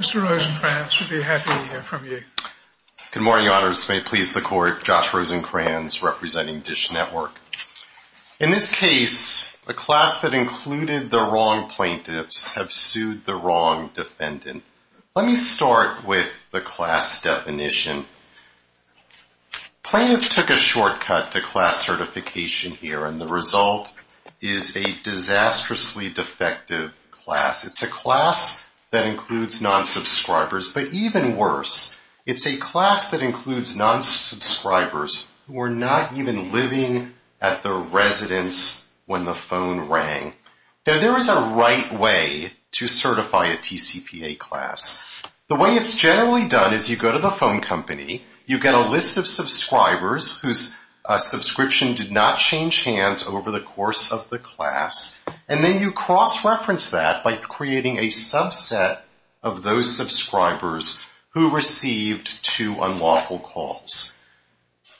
Mr. Rosenkranz, we'd be happy to hear from you. Good morning, Your Honors. May it please the Court, Josh Rosenkranz representing Dish Network. In this case, the class that included the wrong plaintiffs have sued the wrong defendant. Let me start with the class definition. Plaintiffs took a shortcut to class certification here, and the result is a disastrously defective class. It's a class that includes non-subscribers, but even worse, it's a class that includes non-subscribers who were not even living at the residence when the phone rang. Now, there is a right way to certify a TCPA class. The way it's generally done is you go to the phone company, you get a list of subscribers whose subscription did not change hands over the course of the class, and then you cross-reference that by creating a subset of those subscribers who received two unlawful calls.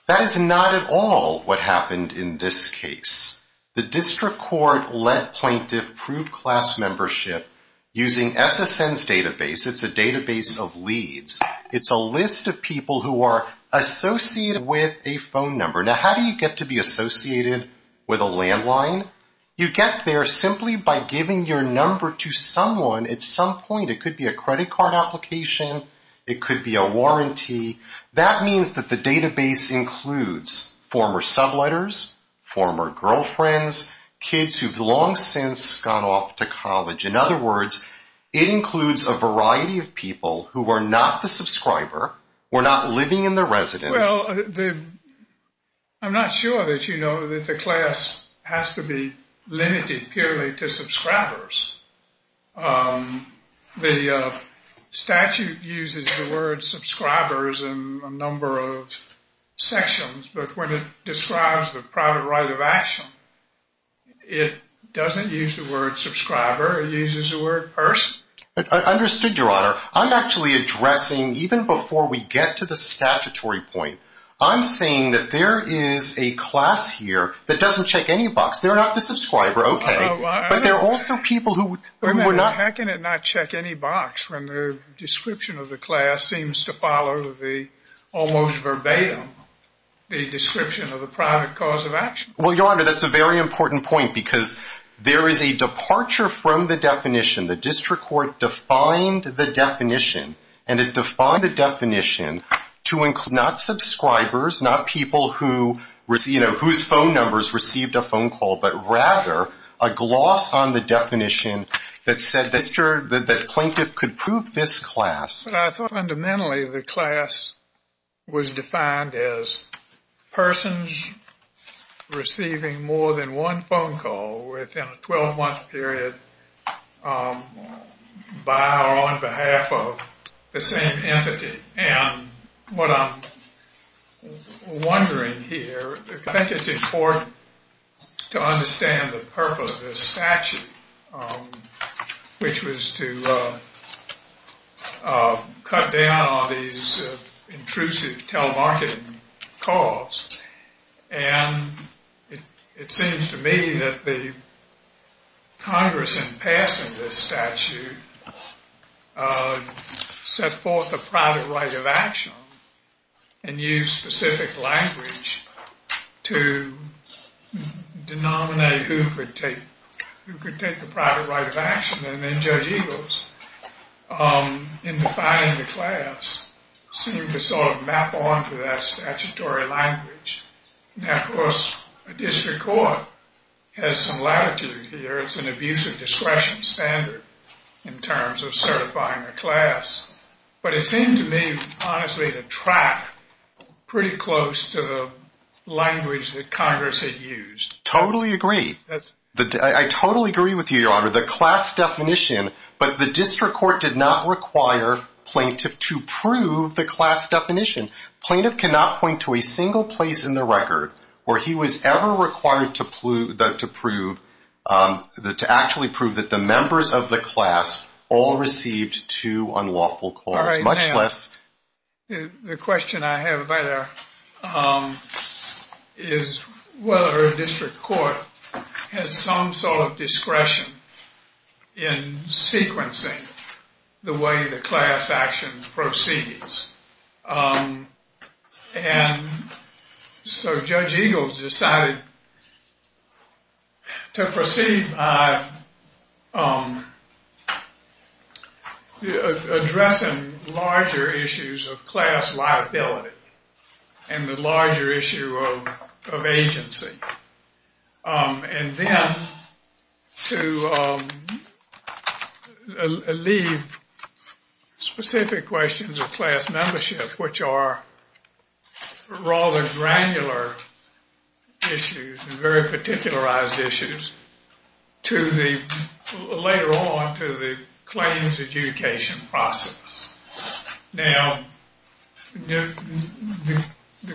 That is not at all what happened in this case. The District Court let plaintiffs prove class membership using SSN's database. It's a database of leads. It's a list of people who are associated with a phone number. Now, how do you get to be associated with a landline? You get there simply by giving your number to someone at some point. It could be a credit card application. It could be a warranty. That means that the database includes former subletters, former girlfriends, kids who've long since gone off to college. In other words, it includes a variety of people who are not the subscriber, who are not living in the residence. Well, I'm not sure that you know that the class has to be limited purely to subscribers. The statute uses the word subscribers in a number of sections, but when it describes the private right of action, it doesn't use the word subscriber. It uses the word person. Understood, Your Honor. I'm actually addressing, even before we get to the statutory point, I'm saying that there is a class here that doesn't check any box. They're not the subscriber, okay, but they're also people who were not. How can it not check any box when the description of the class seems to follow the almost verbatim description of the private cause of action? Well, Your Honor, that's a very important point because there is a departure from the definition. The district court defined the definition, and it defined the definition to include not subscribers, not people whose phone numbers received a phone call, but rather a gloss on the definition that said the plaintiff could prove this class. Fundamentally, the class was defined as persons receiving more than one phone call within a 12-month period by or on behalf of the same entity. And what I'm wondering here, I think it's important to understand the purpose of this statute, which was to cut down on these intrusive telemarketing calls. And it seems to me that the Congress in passing this statute set forth a private right of action and used specific language to denominate who could take the private right of action. And then Judge Eagles, in defining the class, seemed to sort of map onto that statutory language. Now, of course, a district court has some latitude here. It's an abuse of discretion standard in terms of certifying a class. But it seemed to me, honestly, to track pretty close to the language that Congress had used. Totally agree. I totally agree with you, Your Honor. The class definition, but the district court did not require plaintiff to prove the class definition. Plaintiff cannot point to a single place in the record where he was ever required to prove, to actually prove that the members of the class all received two unlawful calls, much less. The question I have there is whether a district court has some sort of discretion in sequencing the way the class action proceeds. And so Judge Eagles decided to proceed by addressing larger issues of class liability and the larger issue of agency. And then to leave specific questions of class membership, which are rather granular issues and very particularized issues, later on to the claims adjudication process. Now, the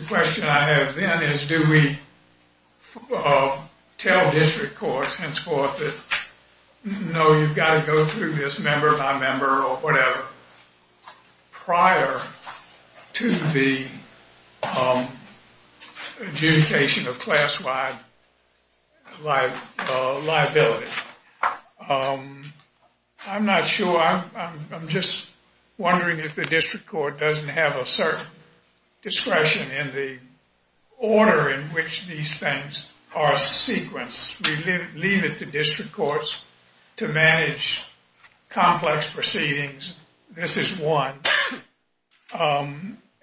question I have then is do we tell district courts, henceforth, that no, you've got to go through this member by member or whatever prior to the adjudication of class-wide liability. I'm not sure. I'm just wondering if the district court doesn't have a certain discretion in the order in which these things are sequenced. We leave it to district courts to manage complex proceedings. This is one.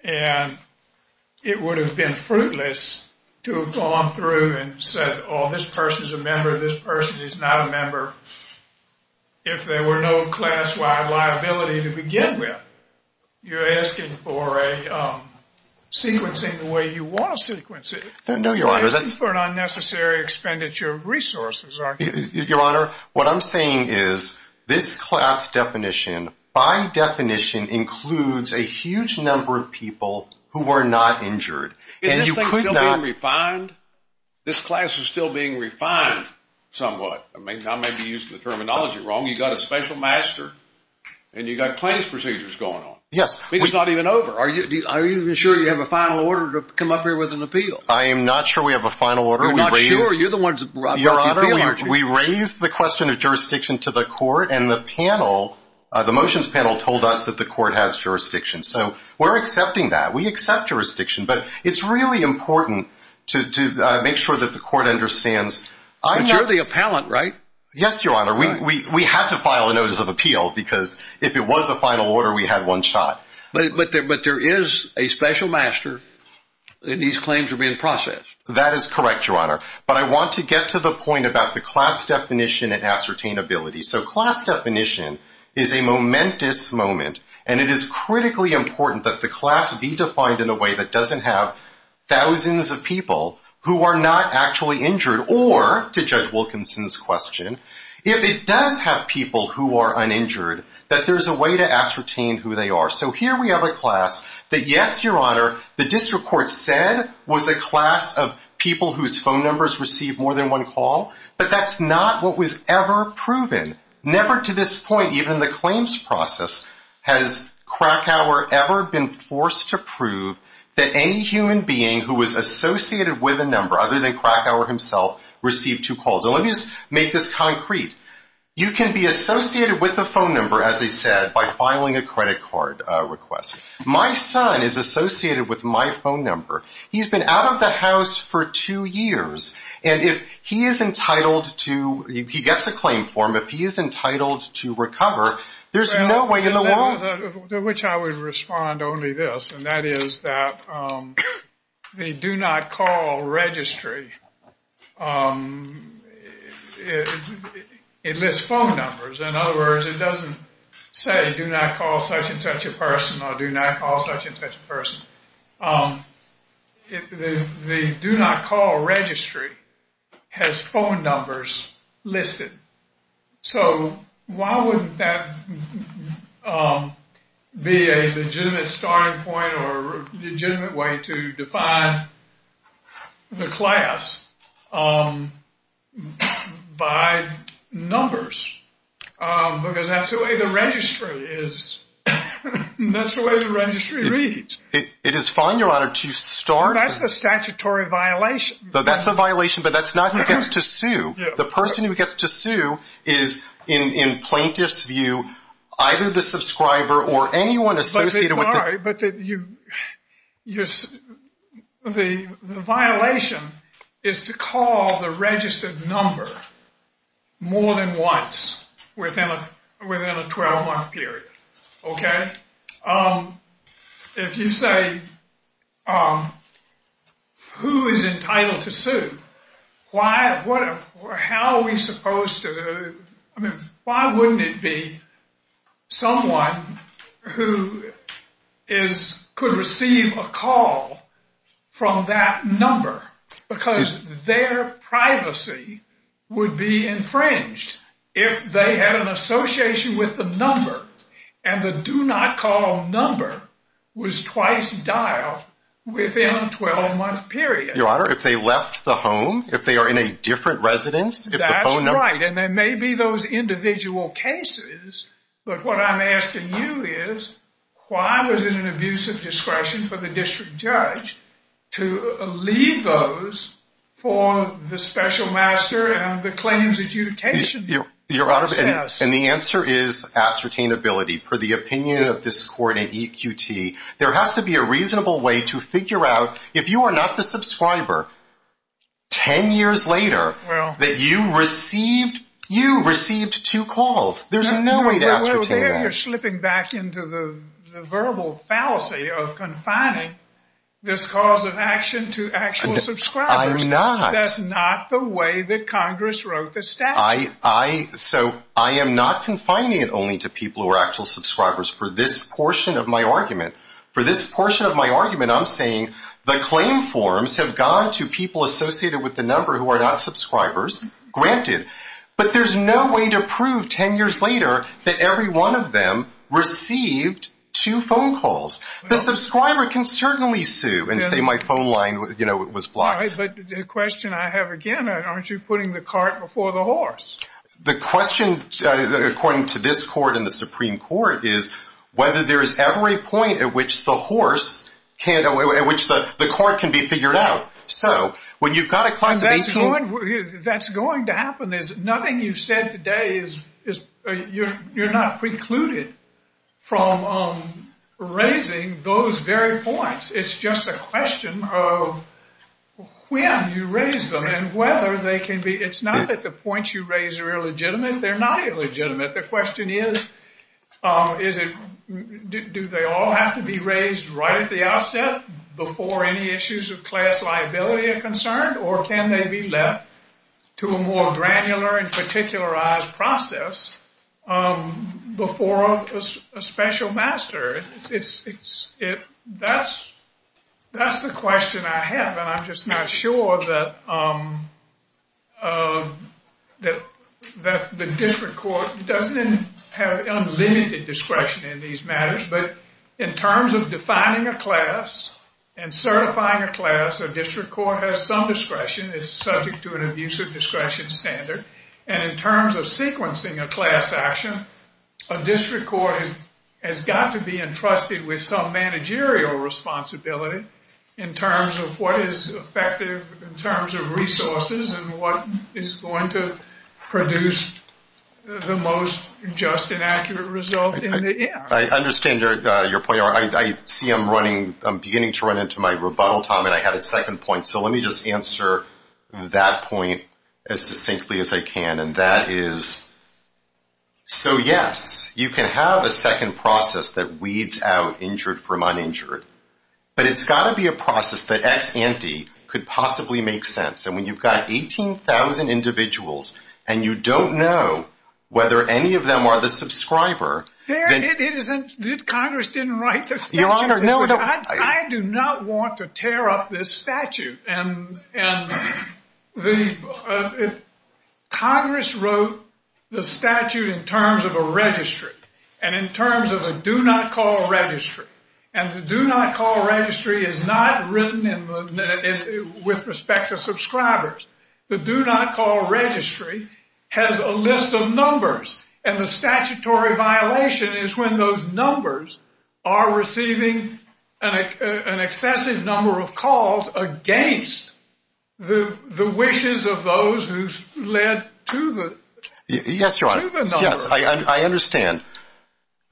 And it would have been fruitless to have gone through and said, oh, this person is a member, this person is not a member, if there were no class-wide liability to begin with. You're asking for a sequencing the way you want to sequence it. No, Your Honor. You're asking for an unnecessary expenditure of resources, aren't you? Your Honor, what I'm saying is this class definition, by definition, includes a huge number of people who were not injured. Is this thing still being refined? This class is still being refined somewhat. I may be using the terminology wrong. You've got a special master, and you've got plaintiff's procedures going on. Yes. I mean, it's not even over. Are you sure you have a final order to come up here with an appeal? I am not sure we have a final order. You're not sure? You're the one who's brought the appeal. Your Honor, we raised the question of jurisdiction to the court, and the motions panel told us that the court has jurisdiction. So we're accepting that. We accept jurisdiction. But it's really important to make sure that the court understands. But you're the appellant, right? Yes, Your Honor. We had to file a notice of appeal because if it was a final order, we had one shot. But there is a special master, and these claims are being processed. That is correct, Your Honor. But I want to get to the point about the class definition and ascertainability. So class definition is a momentous moment, and it is critically important that the class be defined in a way that doesn't have thousands of people who are not actually injured, or, to Judge Wilkinson's question, if it does have people who are uninjured, that there's a way to ascertain who they are. So here we have a class that, yes, Your Honor, the district court said was a class of people whose phone numbers received more than one call, but that's not what was ever proven. Never to this point, even in the claims process, has Krakauer ever been forced to prove that any human being who was associated with a number other than Krakauer himself received two calls. And let me just make this concrete. You can be associated with a phone number, as he said, by filing a credit card request. My son is associated with my phone number. He's been out of the house for two years, and if he is entitled to, if he gets a claim for him, if he is entitled to recover, there's no way in the world. To which I would respond only this, and that is that the do not call registry, it lists phone numbers. In other words, it doesn't say do not call such and such a person or do not call such and such a person. The do not call registry has phone numbers listed. So why wouldn't that be a legitimate starting point or a legitimate way to define the class by numbers? Because that's the way the registry is. That's the way the registry reads. It is fine, Your Honor, to start. That's the statutory violation. That's the violation, but that's not who gets to sue. The person who gets to sue is, in plaintiff's view, either the subscriber or anyone associated with it. All right, but the violation is to call the registered number more than once within a 12-month period. Okay? If you say who is entitled to sue, how are we supposed to, I mean, why wouldn't it be someone who could receive a call from that number? Because their privacy would be infringed if they had an association with the number, and the do not call number was twice dialed within a 12-month period. Your Honor, if they left the home, if they are in a different residence, if the phone number – That's right, and there may be those individual cases, but what I'm asking you is why was it an abuse of discretion for the district judge to leave those for the special master and the claims adjudication process? Your Honor, and the answer is ascertainability. Per the opinion of this court at EQT, there has to be a reasonable way to figure out, if you are not the subscriber, 10 years later, that you received two calls. There's no way to ascertain that. Well, there you're slipping back into the verbal fallacy of confining this cause of action to actual subscribers. I'm not. That's not the way that Congress wrote the statute. So I am not confining it only to people who are actual subscribers. For this portion of my argument, for this portion of my argument, I'm saying the claim forms have gone to people associated with the number who are not subscribers, granted, but there's no way to prove 10 years later that every one of them received two phone calls. The subscriber can certainly sue and say my phone line was blocked. All right, but the question I have again, aren't you putting the cart before the horse? The question, according to this court and the Supreme Court, is whether there is ever a point at which the horse can't, at which the cart can be figured out. So when you've got a class of 18… That's going to happen. Nothing you've said today is, you're not precluded from raising those very points. It's just a question of when you raise them and whether they can be… It's not that the points you raise are illegitimate. They're not illegitimate. The question is, do they all have to be raised right at the outset before any issues of class liability are concerned, or can they be left to a more granular and particularized process before a special master? That's the question I have, and I'm just not sure that the district court doesn't have unlimited discretion in these matters. But in terms of defining a class and certifying a class, a district court has some discretion. It's subject to an abuse of discretion standard. And in terms of sequencing a class action, a district court has got to be entrusted with some managerial responsibility in terms of what is effective in terms of resources and what is going to produce the most just and accurate result in the end. I understand your point. I see I'm beginning to run into my rebuttal time, and I had a second point. So let me just answer that point as succinctly as I can. So, yes, you can have a second process that weeds out injured from uninjured, but it's got to be a process that ex ante could possibly make sense. And when you've got 18,000 individuals and you don't know whether any of them are the subscriber, then— It isn't that Congress didn't write the statute. I do not want to tear up this statute. And Congress wrote the statute in terms of a registry and in terms of a do-not-call registry. And the do-not-call registry is not written with respect to subscribers. The do-not-call registry has a list of numbers, and the statutory violation is when those numbers are receiving an excessive number of calls against the wishes of those who led to the numbers. Yes, Your Honor. Yes, I understand.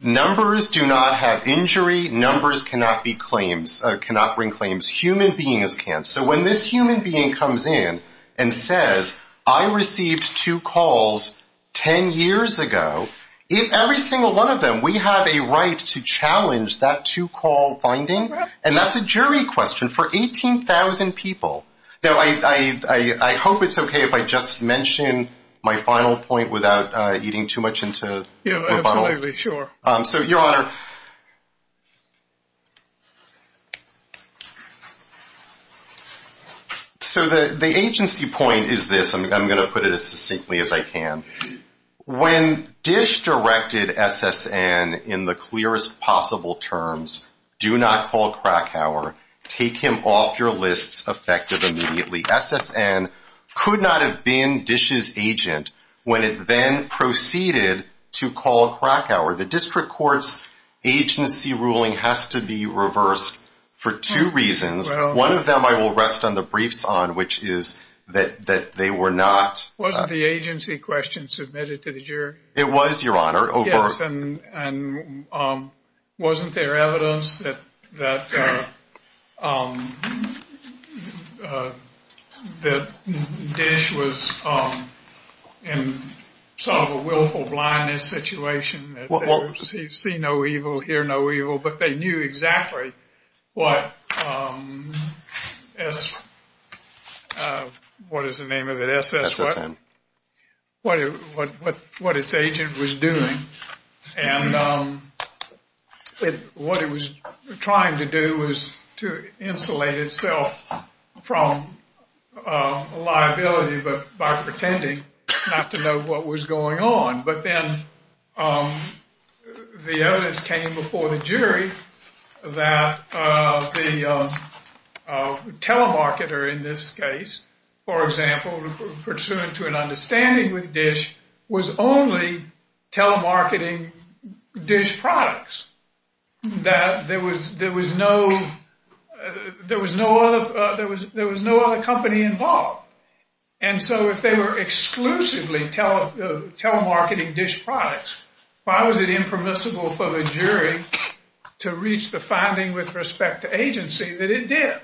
Numbers do not have injury. Numbers cannot bring claims. Human beings can. So when this human being comes in and says, I received two calls 10 years ago, if every single one of them, we have a right to challenge that two-call finding? And that's a jury question for 18,000 people. Now, I hope it's okay if I just mention my final point without eating too much into rebuttal. Yeah, absolutely. Sure. So, Your Honor, so the agency point is this. I'm going to put it as succinctly as I can. When DISH directed SSN in the clearest possible terms, do not call Krakauer, take him off your lists effective immediately, SSN could not have been DISH's agent when it then proceeded to call Krakauer. The district court's agency ruling has to be reversed for two reasons. One of them I will rest on the briefs on, which is that they were not Wasn't the agency question submitted to the jury? It was, Your Honor. Yes, and wasn't there evidence that DISH was in sort of a willful blindness situation, see no evil, hear no evil, but they knew exactly what SSN, what is the name of it? SSN. What its agent was doing. And what it was trying to do was to insulate itself from liability by pretending not to know what was going on. But then the evidence came before the jury that the telemarketer in this case, for example, pursuant to an understanding with DISH, was only telemarketing DISH products. That there was no other company involved. And so if they were exclusively telemarketing DISH products, why was it impermissible for the jury to reach the finding with respect to agency that it did?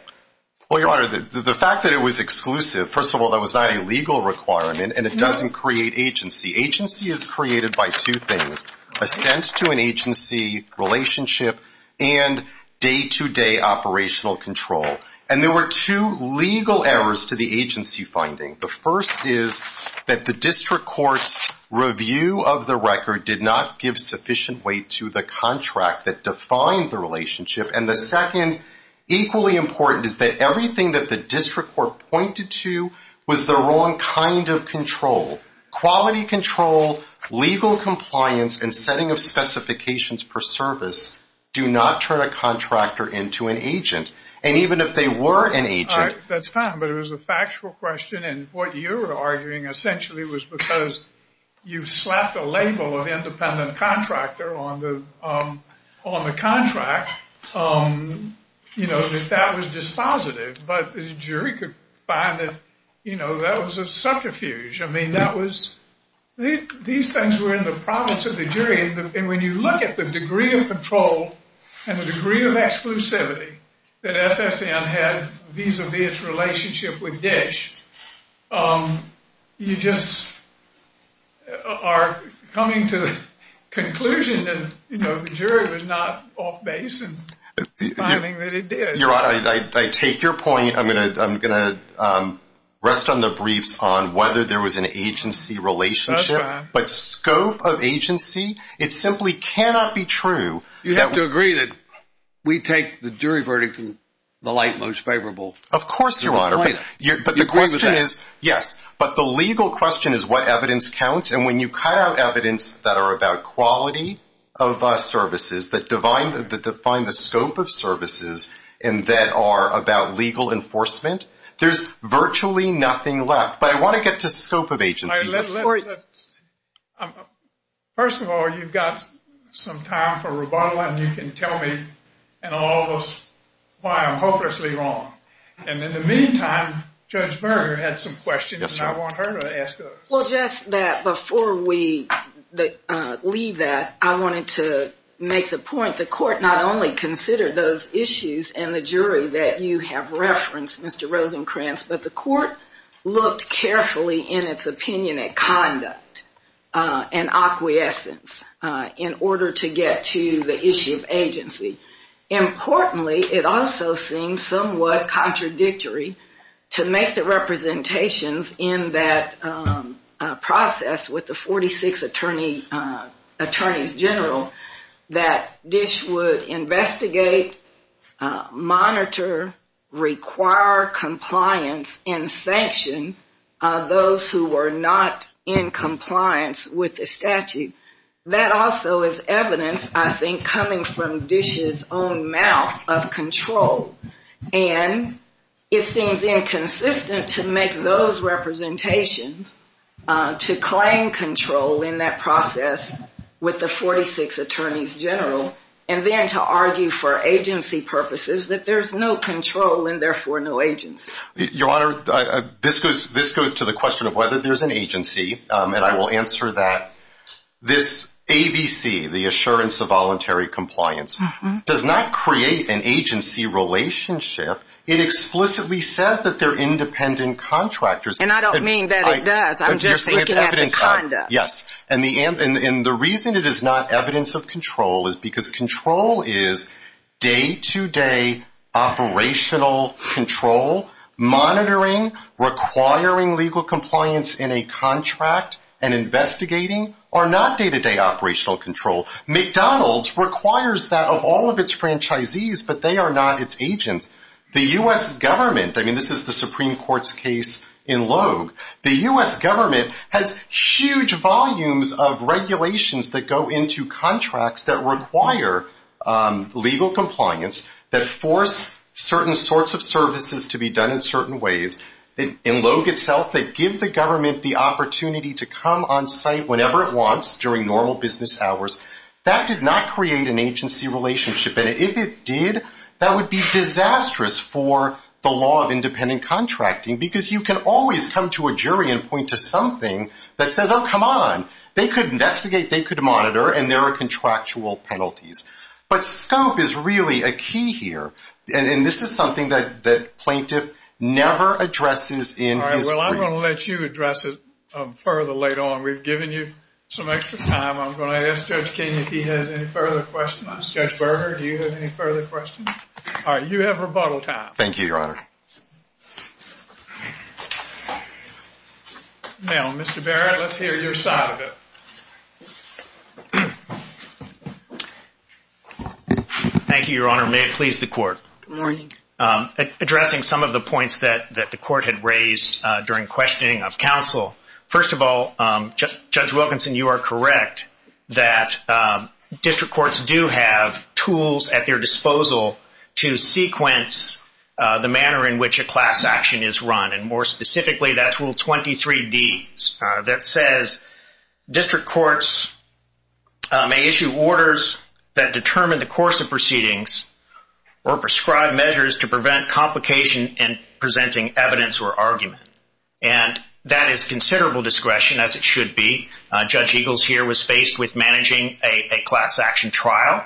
Well, Your Honor, the fact that it was exclusive, first of all, that was not a legal requirement and it doesn't create agency. Agency is created by two things, assent to an agency relationship and day-to-day operational control. And there were two legal errors to the agency finding. The first is that the district court's review of the record did not give sufficient weight to the contract that defined the relationship. And the second, equally important, is that everything that the district court pointed to was the wrong kind of control. Quality control, legal compliance, and setting of specifications per service do not turn a contractor into an agent. And even if they were an agent... That's fine, but it was a factual question. And what you're arguing, essentially, was because you slapped a label of independent contractor on the contract. You know, that was dispositive. But the jury could find that, you know, that was a subterfuge. I mean, that was... These things were in the province of the jury. And when you look at the degree of control and the degree of exclusivity, that SSN had vis-a-vis its relationship with DISH, you just are coming to the conclusion that, you know, the jury was not off base in the finding that it did. Your Honor, I take your point. I'm going to rest on the briefs on whether there was an agency relationship. That's fine. But scope of agency, it simply cannot be true. You have to agree that we take the jury verdict in the light most favorable. Of course, Your Honor. But the question is, yes. But the legal question is what evidence counts. And when you cut out evidence that are about quality of services, that define the scope of services and that are about legal enforcement, there's virtually nothing left. But I want to get to scope of agency. First of all, you've got some time for rebuttal, and you can tell me in all of us why I'm hopelessly wrong. And in the meantime, Judge Berger had some questions, and I want her to ask those. Well, just that before we leave that, I wanted to make the point, the court not only considered those issues and the jury that you have referenced, Mr. Rosenkranz, but the court looked carefully in its opinion at conduct and acquiescence in order to get to the issue of agency. Importantly, it also seems somewhat contradictory to make the representations in that process with the 46 attorneys general that DISH would investigate, monitor, require compliance, and sanction those who were not in compliance with the statute. That also is evidence, I think, coming from DISH's own mouth of control. And it seems inconsistent to make those representations to claim control in that process with the 46 attorneys general, and then to argue for agency purposes that there's no control and therefore no agency. Your Honor, this goes to the question of whether there's an agency, and I will answer that. This ABC, the Assurance of Voluntary Compliance, does not create an agency relationship. It explicitly says that they're independent contractors. And I don't mean that it does. I'm just looking at the conduct. Yes, and the reason it is not evidence of control is because control is day-to-day operational control, monitoring, requiring legal compliance in a contract, and investigating are not day-to-day operational control. McDonald's requires that of all of its franchisees, but they are not its agents. The U.S. government, I mean, this is the Supreme Court's case in Logue. The U.S. government has huge volumes of regulations that go into contracts that require legal compliance, that force certain sorts of services to be done in certain ways. In Logue itself, they give the government the opportunity to come on site whenever it wants during normal business hours. That did not create an agency relationship. And if it did, that would be disastrous for the law of independent contracting because you can always come to a jury and point to something that says, oh, come on, they could investigate, they could monitor, and there are contractual penalties. But scope is really a key here, and this is something that plaintiff never addresses in his brief. All right, well, I'm going to let you address it further later on. We've given you some extra time. I'm going to ask Judge King if he has any further questions. Judge Berger, do you have any further questions? All right, you have rebuttal time. Thank you, Your Honor. Now, Mr. Barrett, let's hear your side of it. Thank you, Your Honor. May it please the Court. Good morning. Addressing some of the points that the Court had raised during questioning of counsel, first of all, Judge Wilkinson, you are correct that district courts do have tools at their disposal to sequence the manner in which a class action is run, and more specifically that's Rule 23D that says district courts may issue orders that determine the course of proceedings or prescribe measures to prevent complication in presenting evidence or argument. And that is considerable discretion, as it should be. Judge Eagles here was faced with managing a class action trial.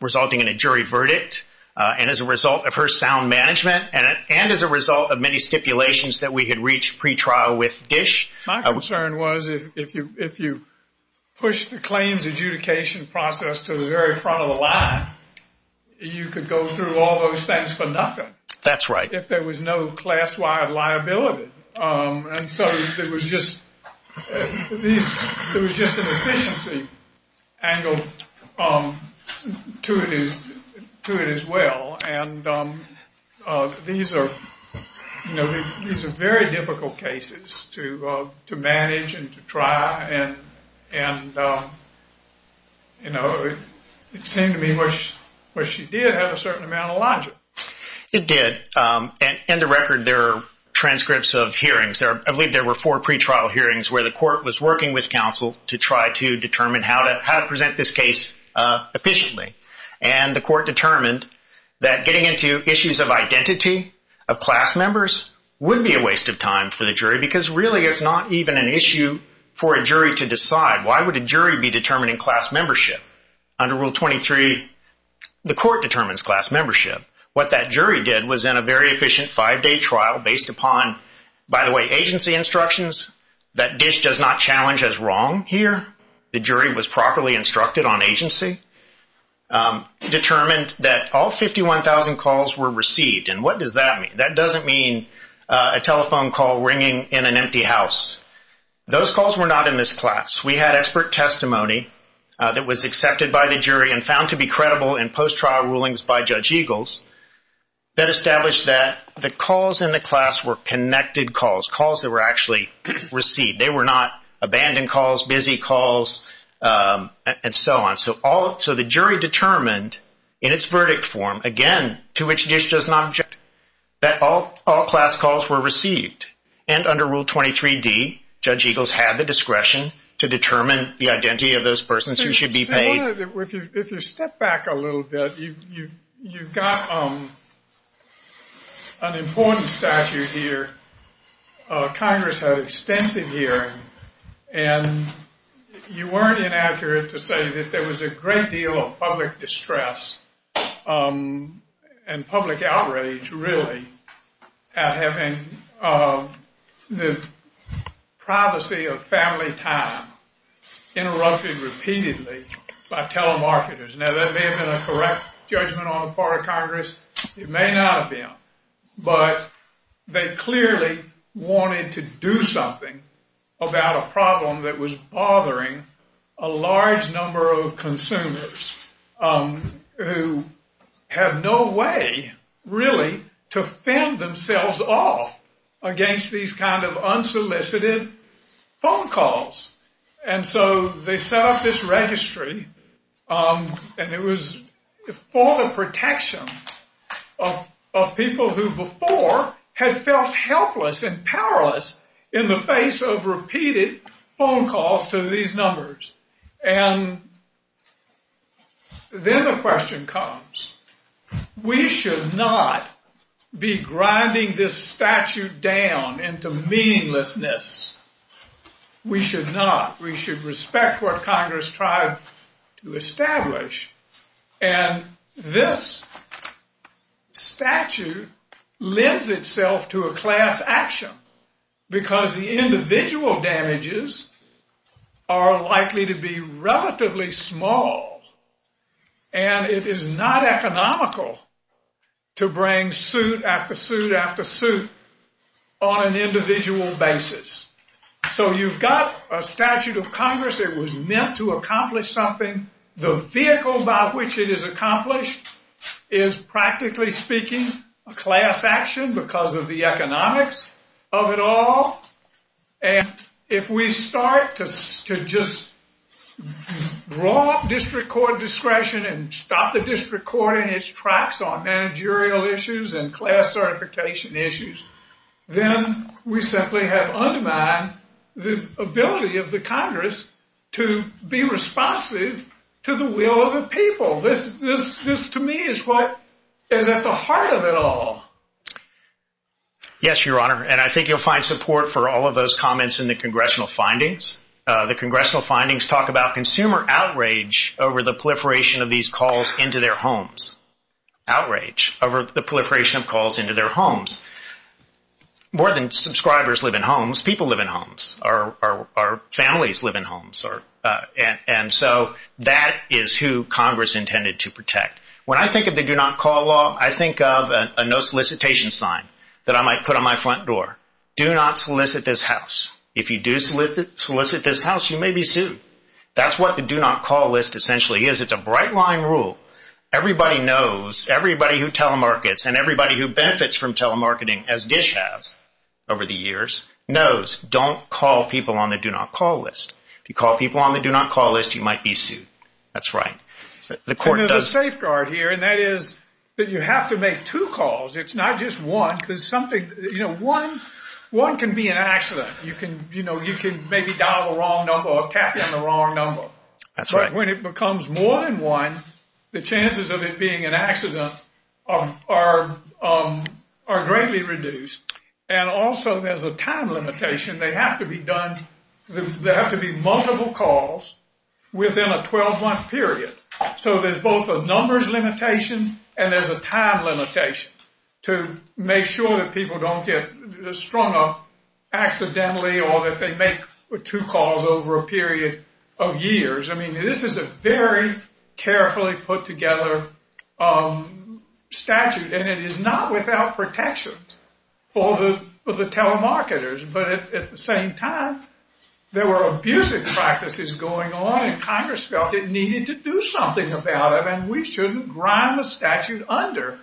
Resulting in a jury verdict and as a result of her sound management and as a result of many stipulations that we had reached pre-trial with DISH. My concern was if you push the claims adjudication process to the very front of the line, you could go through all those things for nothing. That's right. If there was no class-wide liability. And so there was just an efficiency angle to it as well. And these are very difficult cases to manage and to try. And it seemed to me that she did have a certain amount of logic. It did. And the record, there are transcripts of hearings. I believe there were four pre-trial hearings where the court was working with counsel to try to determine how to present this case efficiently. And the court determined that getting into issues of identity, of class members, would be a waste of time for the jury because really it's not even an issue for a jury to decide. Why would a jury be determining class membership? Under Rule 23, the court determines class membership. What that jury did was in a very efficient five-day trial based upon, by the way, agency instructions that DISH does not challenge as wrong here. The jury was properly instructed on agency. Determined that all 51,000 calls were received. And what does that mean? That doesn't mean a telephone call ringing in an empty house. Those calls were not in this class. We had expert testimony that was accepted by the jury and found to be credible in post-trial rulings by Judge Eagles that established that the calls in the class were connected calls, calls that were actually received. They were not abandoned calls, busy calls, and so on. So the jury determined in its verdict form, again, to which DISH does not object, that all class calls were received. And under Rule 23D, Judge Eagles had the discretion to determine the identity of those persons who should be paid. If you step back a little bit, you've got an important statute here. Congress had extensive hearing. And you weren't inaccurate to say that there was a great deal of public distress and public outrage really at having the privacy of family time interrupted repeatedly by telemarketers. Now, that may have been a correct judgment on the part of Congress. It may not have been. But they clearly wanted to do something about a problem that was bothering a large number of consumers who have no way, really, to fend themselves off against these kind of unsolicited phone calls. And so they set up this registry. And it was for the protection of people who before had felt helpless and powerless in the face of repeated phone calls to these numbers. And then the question comes, we should not be grinding this statute down into meaninglessness. We should not. We should respect what Congress tried to establish. And this statute lends itself to a class action because the individual damages are likely to be relatively small. And it is not economical to bring suit after suit after suit on an individual basis. So you've got a statute of Congress. It was meant to accomplish something. The vehicle by which it is accomplished is, practically speaking, a class action because of the economics of it all. And if we start to just draw up district court discretion and stop the district court in its tracks on managerial issues and class certification issues, then we simply have undermined the ability of the Congress to be responsive to the will of the people. This, to me, is at the heart of it all. Yes, Your Honor. And I think you'll find support for all of those comments in the congressional findings. The congressional findings talk about consumer outrage over the proliferation of these calls into their homes. Outrage over the proliferation of calls into their homes. More than subscribers live in homes, people live in homes. Our families live in homes. And so that is who Congress intended to protect. When I think of the do not call law, I think of a no solicitation sign that I might put on my front door. Do not solicit this house. If you do solicit this house, you may be sued. That's what the do not call list essentially is. It's a bright line rule. Everybody knows, everybody who telemarkets and everybody who benefits from telemarketing, as Dish has over the years, knows don't call people on the do not call list. If you call people on the do not call list, you might be sued. That's right. And there's a safeguard here, and that is that you have to make two calls. It's not just one. One can be an accident. You can maybe dial the wrong number or tap on the wrong number. That's right. When it becomes more than one, the chances of it being an accident are greatly reduced. And also there's a time limitation. They have to be done, there have to be multiple calls within a 12-month period. So there's both a numbers limitation and there's a time limitation to make sure that people don't get strung up accidentally or that they make two calls over a period of years. I mean, this is a very carefully put together statute. And it is not without protections for the telemarketers. But at the same time, there were abusive practices going on, and Congress felt it needed to do something about it, and we shouldn't grind the statute under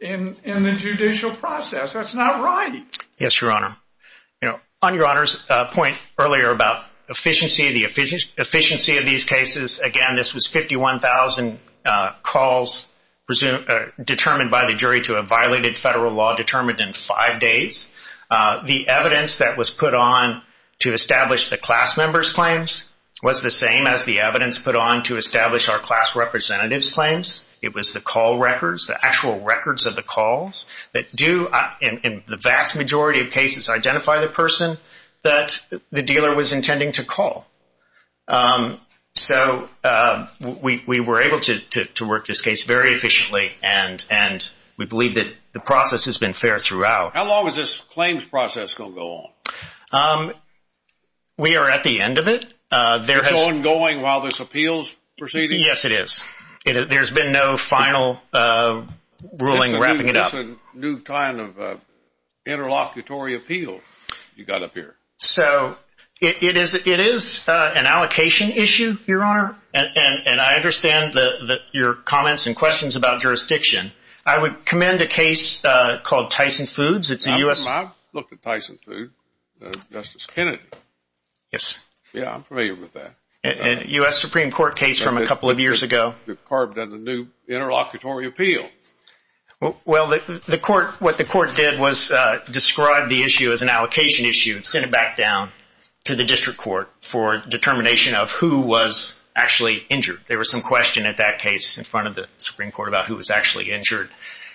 in the judicial process. That's not right. Yes, Your Honor. On Your Honor's point earlier about efficiency, the efficiency of these cases, again, this was 51,000 calls determined by the jury to a violated federal law determined in five days. The evidence that was put on to establish the class members' claims was the same as the evidence put on to establish our class representatives' claims. It was the call records, the actual records of the calls that do, in the vast majority of cases, identify the person that the dealer was intending to call. So we were able to work this case very efficiently, and we believe that the process has been fair throughout. How long is this claims process going to go on? We are at the end of it. It's ongoing while this appeal is proceeding? Yes, it is. There's been no final ruling wrapping it up. This is a new kind of interlocutory appeal you've got up here. So it is an allocation issue, Your Honor, and I understand your comments and questions about jurisdiction. I would commend a case called Tyson Foods. I've looked at Tyson Foods, Justice Kennedy. Yes. Yeah, I'm familiar with that. A U.S. Supreme Court case from a couple of years ago. They've carved out a new interlocutory appeal. Well, what the court did was describe the issue as an allocation issue and send it back down to the district court for determination of who was actually injured. There was some question at that case in front of the Supreme Court about who was actually injured,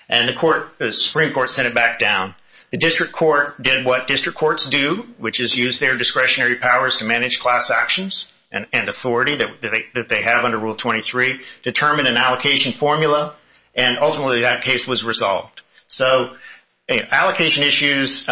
and the Supreme Court sent it back down. The district court did what district courts do, which is use their discretionary powers to manage class actions and authority that they have under Rule 23, determine an allocation formula, and ultimately that case was resolved. So allocation issues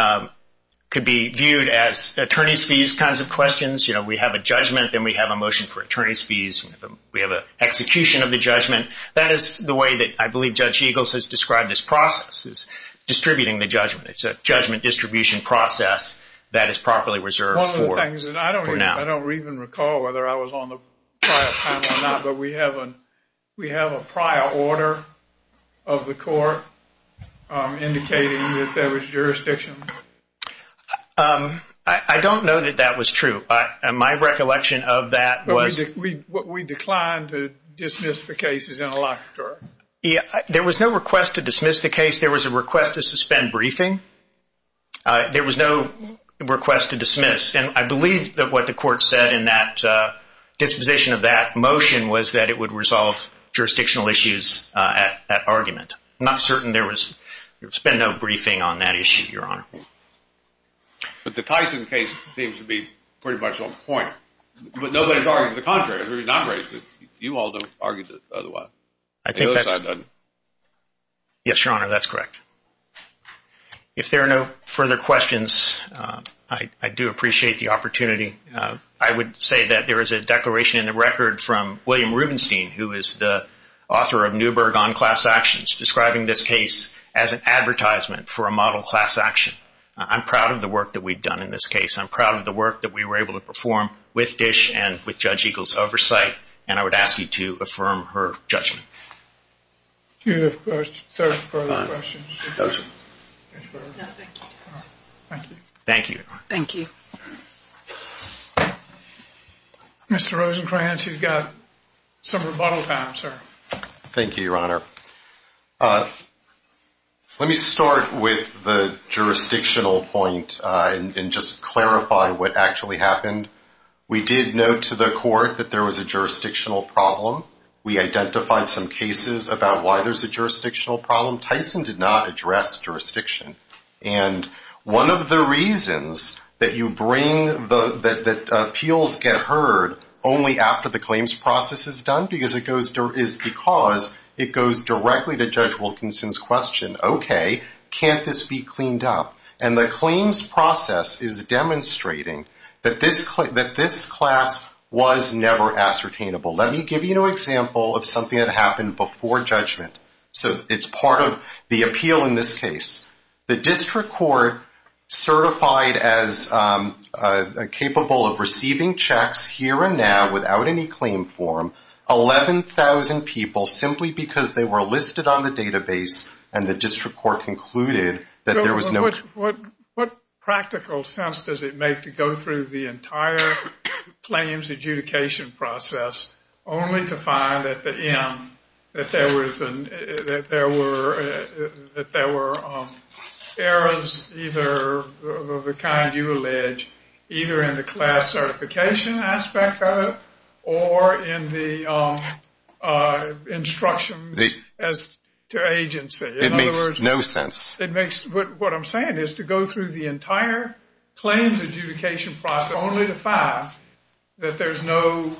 could be viewed as attorney's fees kinds of questions. You know, we have a judgment, then we have a motion for attorney's fees. We have an execution of the judgment. That is the way that I believe Judge Eagles has described this process, is distributing the judgment. It's a judgment distribution process that is properly reserved for now. I don't even recall whether I was on the panel or not, but we have a prior order of the court indicating that there was jurisdiction. I don't know that that was true. My recollection of that was... We declined to dismiss the cases interlocutory. There was no request to dismiss the case. There was a request to suspend briefing. There was no request to dismiss. And I believe that what the court said in that disposition of that motion was that it would resolve jurisdictional issues at argument. I'm not certain there was... There's been no briefing on that issue, Your Honor. But the Tyson case seems to be pretty much on point. But nobody's arguing the contrary. You all don't argue otherwise. I think that's... The other side doesn't. Yes, Your Honor, that's correct. If there are no further questions, I do appreciate the opportunity. I would say that there is a declaration in the record from William Rubenstein, who is the author of Newberg on class actions, describing this case as an advertisement for a model class action. I'm proud of the work that we've done in this case. I'm proud of the work that we were able to perform with Dish and with Judge Eagle's oversight. And I would ask you to affirm her judgment. Do you have further questions? No, sir. No, thank you. Thank you. Thank you, Your Honor. Thank you. Mr. Rosenkranz, you've got some rebuttal time, sir. Thank you, Your Honor. Let me start with the jurisdictional point and just clarify what actually happened. We did note to the court that there was a jurisdictional problem. We identified some cases about why there's a jurisdictional problem. Tyson did not address jurisdiction. And one of the reasons that appeals get heard only after the claims process is done is because it goes directly to Judge Wilkinson's question, okay, can't this be cleaned up? And the claims process is demonstrating that this class was never ascertainable. Let me give you an example of something that happened before judgment. So it's part of the appeal in this case. The district court certified as capable of receiving checks here and now without any claim form 11,000 people simply because they were listed on the database and the district court concluded that there was no... Only to find that there were errors either of the kind you allege, either in the class certification aspect of it or in the instructions as to agency. It makes no sense. What I'm saying is to go through the entire claims adjudication process, only to find that there's no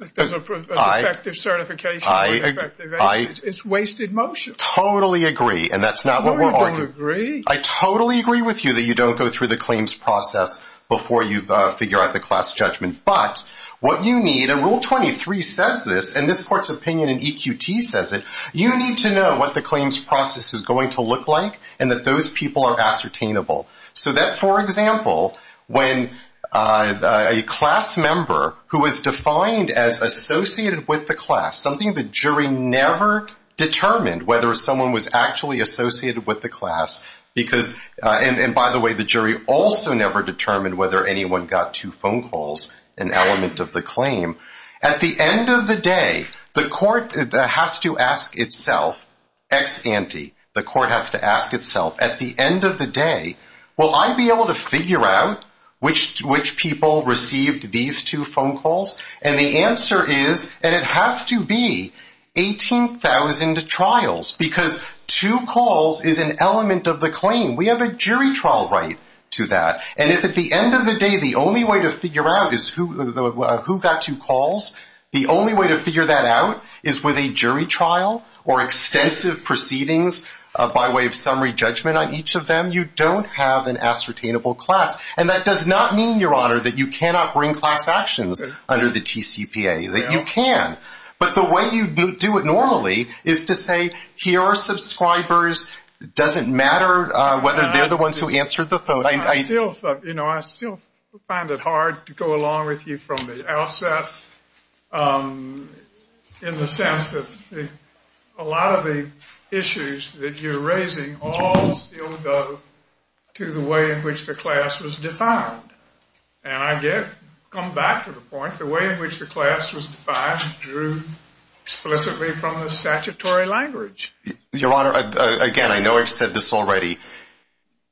effective certification or effective agency. It's wasted motion. I totally agree, and that's not what we're arguing. No, you don't agree. I totally agree with you that you don't go through the claims process before you figure out the class judgment. But what you need, and Rule 23 says this, and this court's opinion in EQT says it, you need to know what the claims process is going to look like and that those people are ascertainable. So that, for example, when a class member who is defined as associated with the class, something the jury never determined whether someone was actually associated with the class because, and by the way, the jury also never determined whether anyone got two phone calls, an element of the claim. At the end of the day, the court has to ask itself, ex ante, the court has to ask itself, at the end of the day, will I be able to figure out which people received these two phone calls? And the answer is, and it has to be 18,000 trials because two calls is an element of the claim. We have a jury trial right to that. And if at the end of the day the only way to figure out is who got two calls, the only way to figure that out is with a jury trial or extensive proceedings by way of summary judgment on each of them, you don't have an ascertainable class. And that does not mean, Your Honor, that you cannot bring class actions under the TCPA. You can. But the way you do it normally is to say, here are subscribers. It doesn't matter whether they're the ones who answered the phone. I still find it hard to go along with you from the outset in the sense that a lot of the issues that you're raising all still go to the way in which the class was defined. And I come back to the point, the way in which the class was defined drew explicitly from the statutory language. Your Honor, again, I know I've said this already.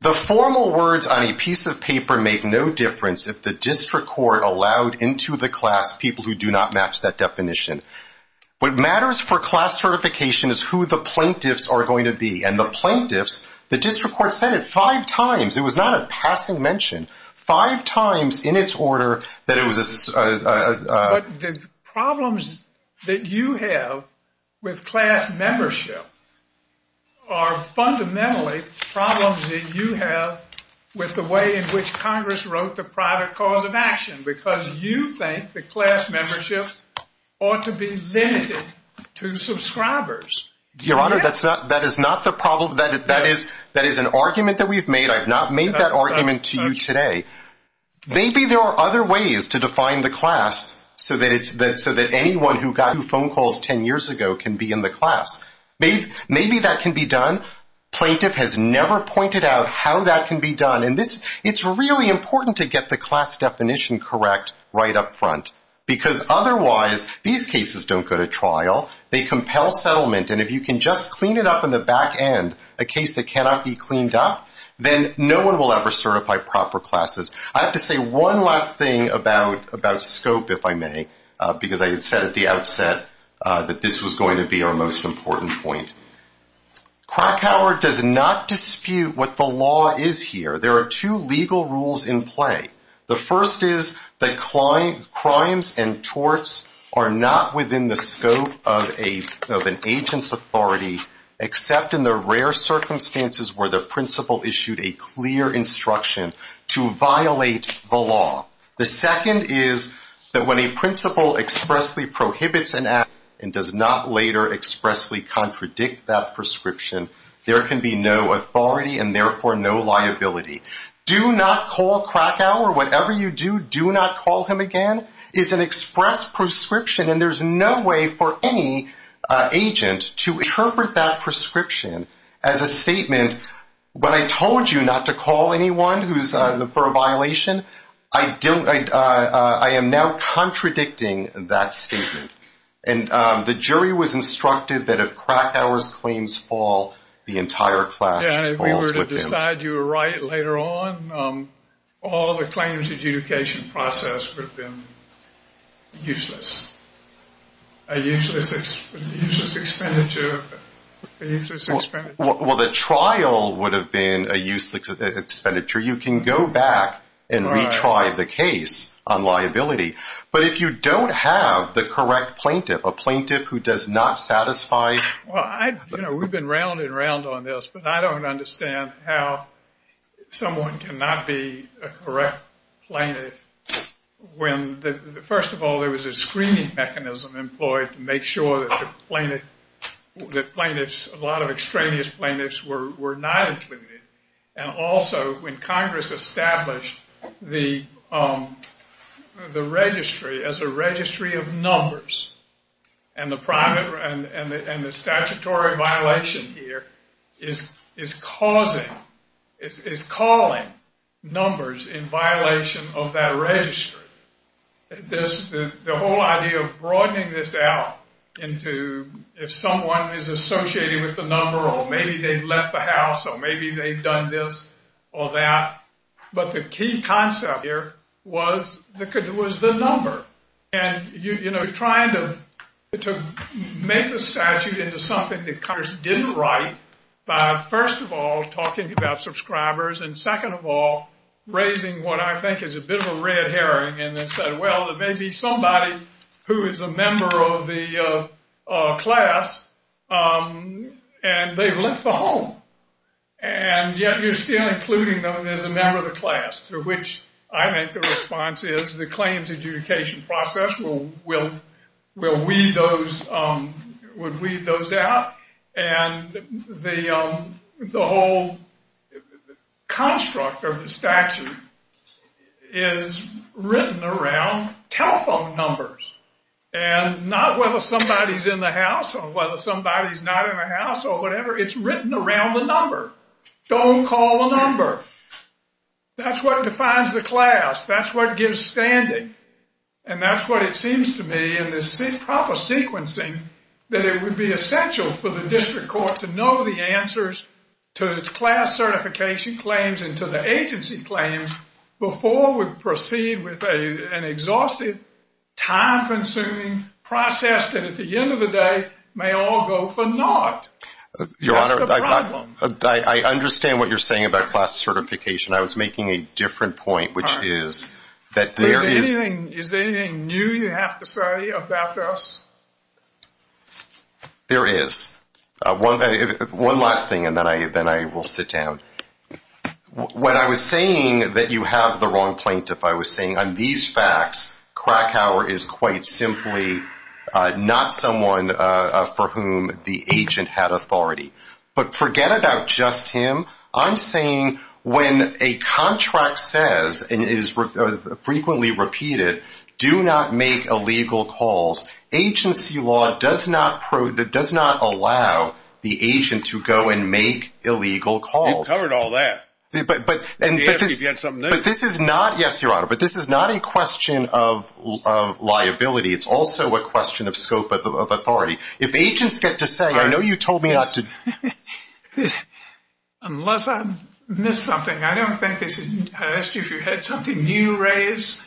The formal words on a piece of paper make no difference if the district court allowed into the class people who do not match that definition. What matters for class certification is who the plaintiffs are going to be. And the plaintiffs, the district court said it five times. It was not a passing mention. Five times in its order that it was a — But the problems that you have with class membership are fundamentally problems that you have with the way in which Congress wrote the private cause of action because you think the class membership ought to be limited to subscribers. Your Honor, that is not the problem. That is an argument that we've made. I've not made that argument to you today. Maybe there are other ways to define the class so that anyone who got new phone calls 10 years ago can be in the class. Maybe that can be done. Plaintiff has never pointed out how that can be done. And it's really important to get the class definition correct right up front because otherwise these cases don't go to trial. They compel settlement. And if you can just clean it up in the back end, a case that cannot be cleaned up, then no one will ever certify proper classes. I have to say one last thing about scope, if I may, because I had said at the outset that this was going to be our most important point. Krakauer does not dispute what the law is here. There are two legal rules in play. The first is that crimes and torts are not within the scope of an agent's authority except in the rare circumstances where the principal issued a clear instruction to violate the law. The second is that when a principal expressly prohibits an act and does not later expressly contradict that prescription, there can be no authority and therefore no liability. Do not call Krakauer. Whatever you do, do not call him again. That is an expressed prescription, and there's no way for any agent to interpret that prescription as a statement, when I told you not to call anyone for a violation, I am now contradicting that statement. And the jury was instructed that if Krakauer's claims fall, the entire class falls with him. If you were to decide you were right later on, all the claims adjudication process would have been useless. A useless expenditure. Well, the trial would have been a useless expenditure. You can go back and retry the case on liability. But if you don't have the correct plaintiff, a plaintiff who does not satisfy. You know, we've been rounding around on this, but I don't understand how someone cannot be a correct plaintiff when, first of all, there was a screening mechanism employed to make sure that plaintiffs, a lot of extraneous plaintiffs were not included, and also when Congress established the registry as a registry of numbers and the statutory violation here is causing, is calling numbers in violation of that registry. The whole idea of broadening this out into if someone is associated with the number, or maybe they've left the house, or maybe they've done this or that, but the key concept here was the number. And, you know, trying to make the statute into something that Congress didn't write by, first of all, talking about subscribers, and second of all, raising what I think is a bit of a red herring, and then said, well, there may be somebody who is a member of the class, and they've left the home, and yet you're still including them as a member of the class, to which I think the response is the claims adjudication process will weed those out, and the whole construct of the statute is written around telephone numbers, and not whether somebody's in the house or whether somebody's not in the house or whatever. It's written around the number. Don't call the number. That's what defines the class. That's what gives standing. And that's what it seems to me in this proper sequencing, that it would be essential for the district court to know the answers to the class certification claims and to the agency claims before we proceed with an exhaustive, time-consuming process that at the end of the day may all go for naught. Your Honor, I understand what you're saying about class certification. I was making a different point, which is that there is — Is there anything new you have to say about this? There is. One last thing, and then I will sit down. When I was saying that you have the wrong plaintiff, I was saying on these facts, Krakauer is quite simply not someone for whom the agent had authority. But forget about just him. I'm saying when a contract says and is frequently repeated, do not make illegal calls, agency law does not allow the agent to go and make illegal calls. You've covered all that. You've got something new. But this is not — yes, Your Honor, but this is not a question of liability. It's also a question of scope of authority. If agents get to say, I know you told me not to — Unless I missed something. I don't think it's — I asked you if you had something new raised,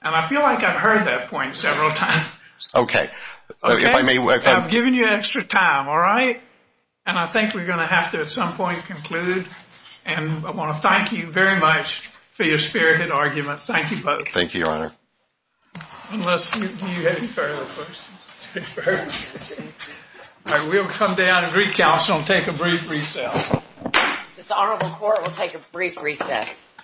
and I feel like I've heard that point several times. Okay. I've given you extra time, all right? And I think we're going to have to at some point conclude. And I want to thank you very much for your spirited argument. Thank you both. Thank you, Your Honor. Unless you have any further questions. All right, we'll come down and recalculate and take a brief recess. This honorable court will take a brief recess.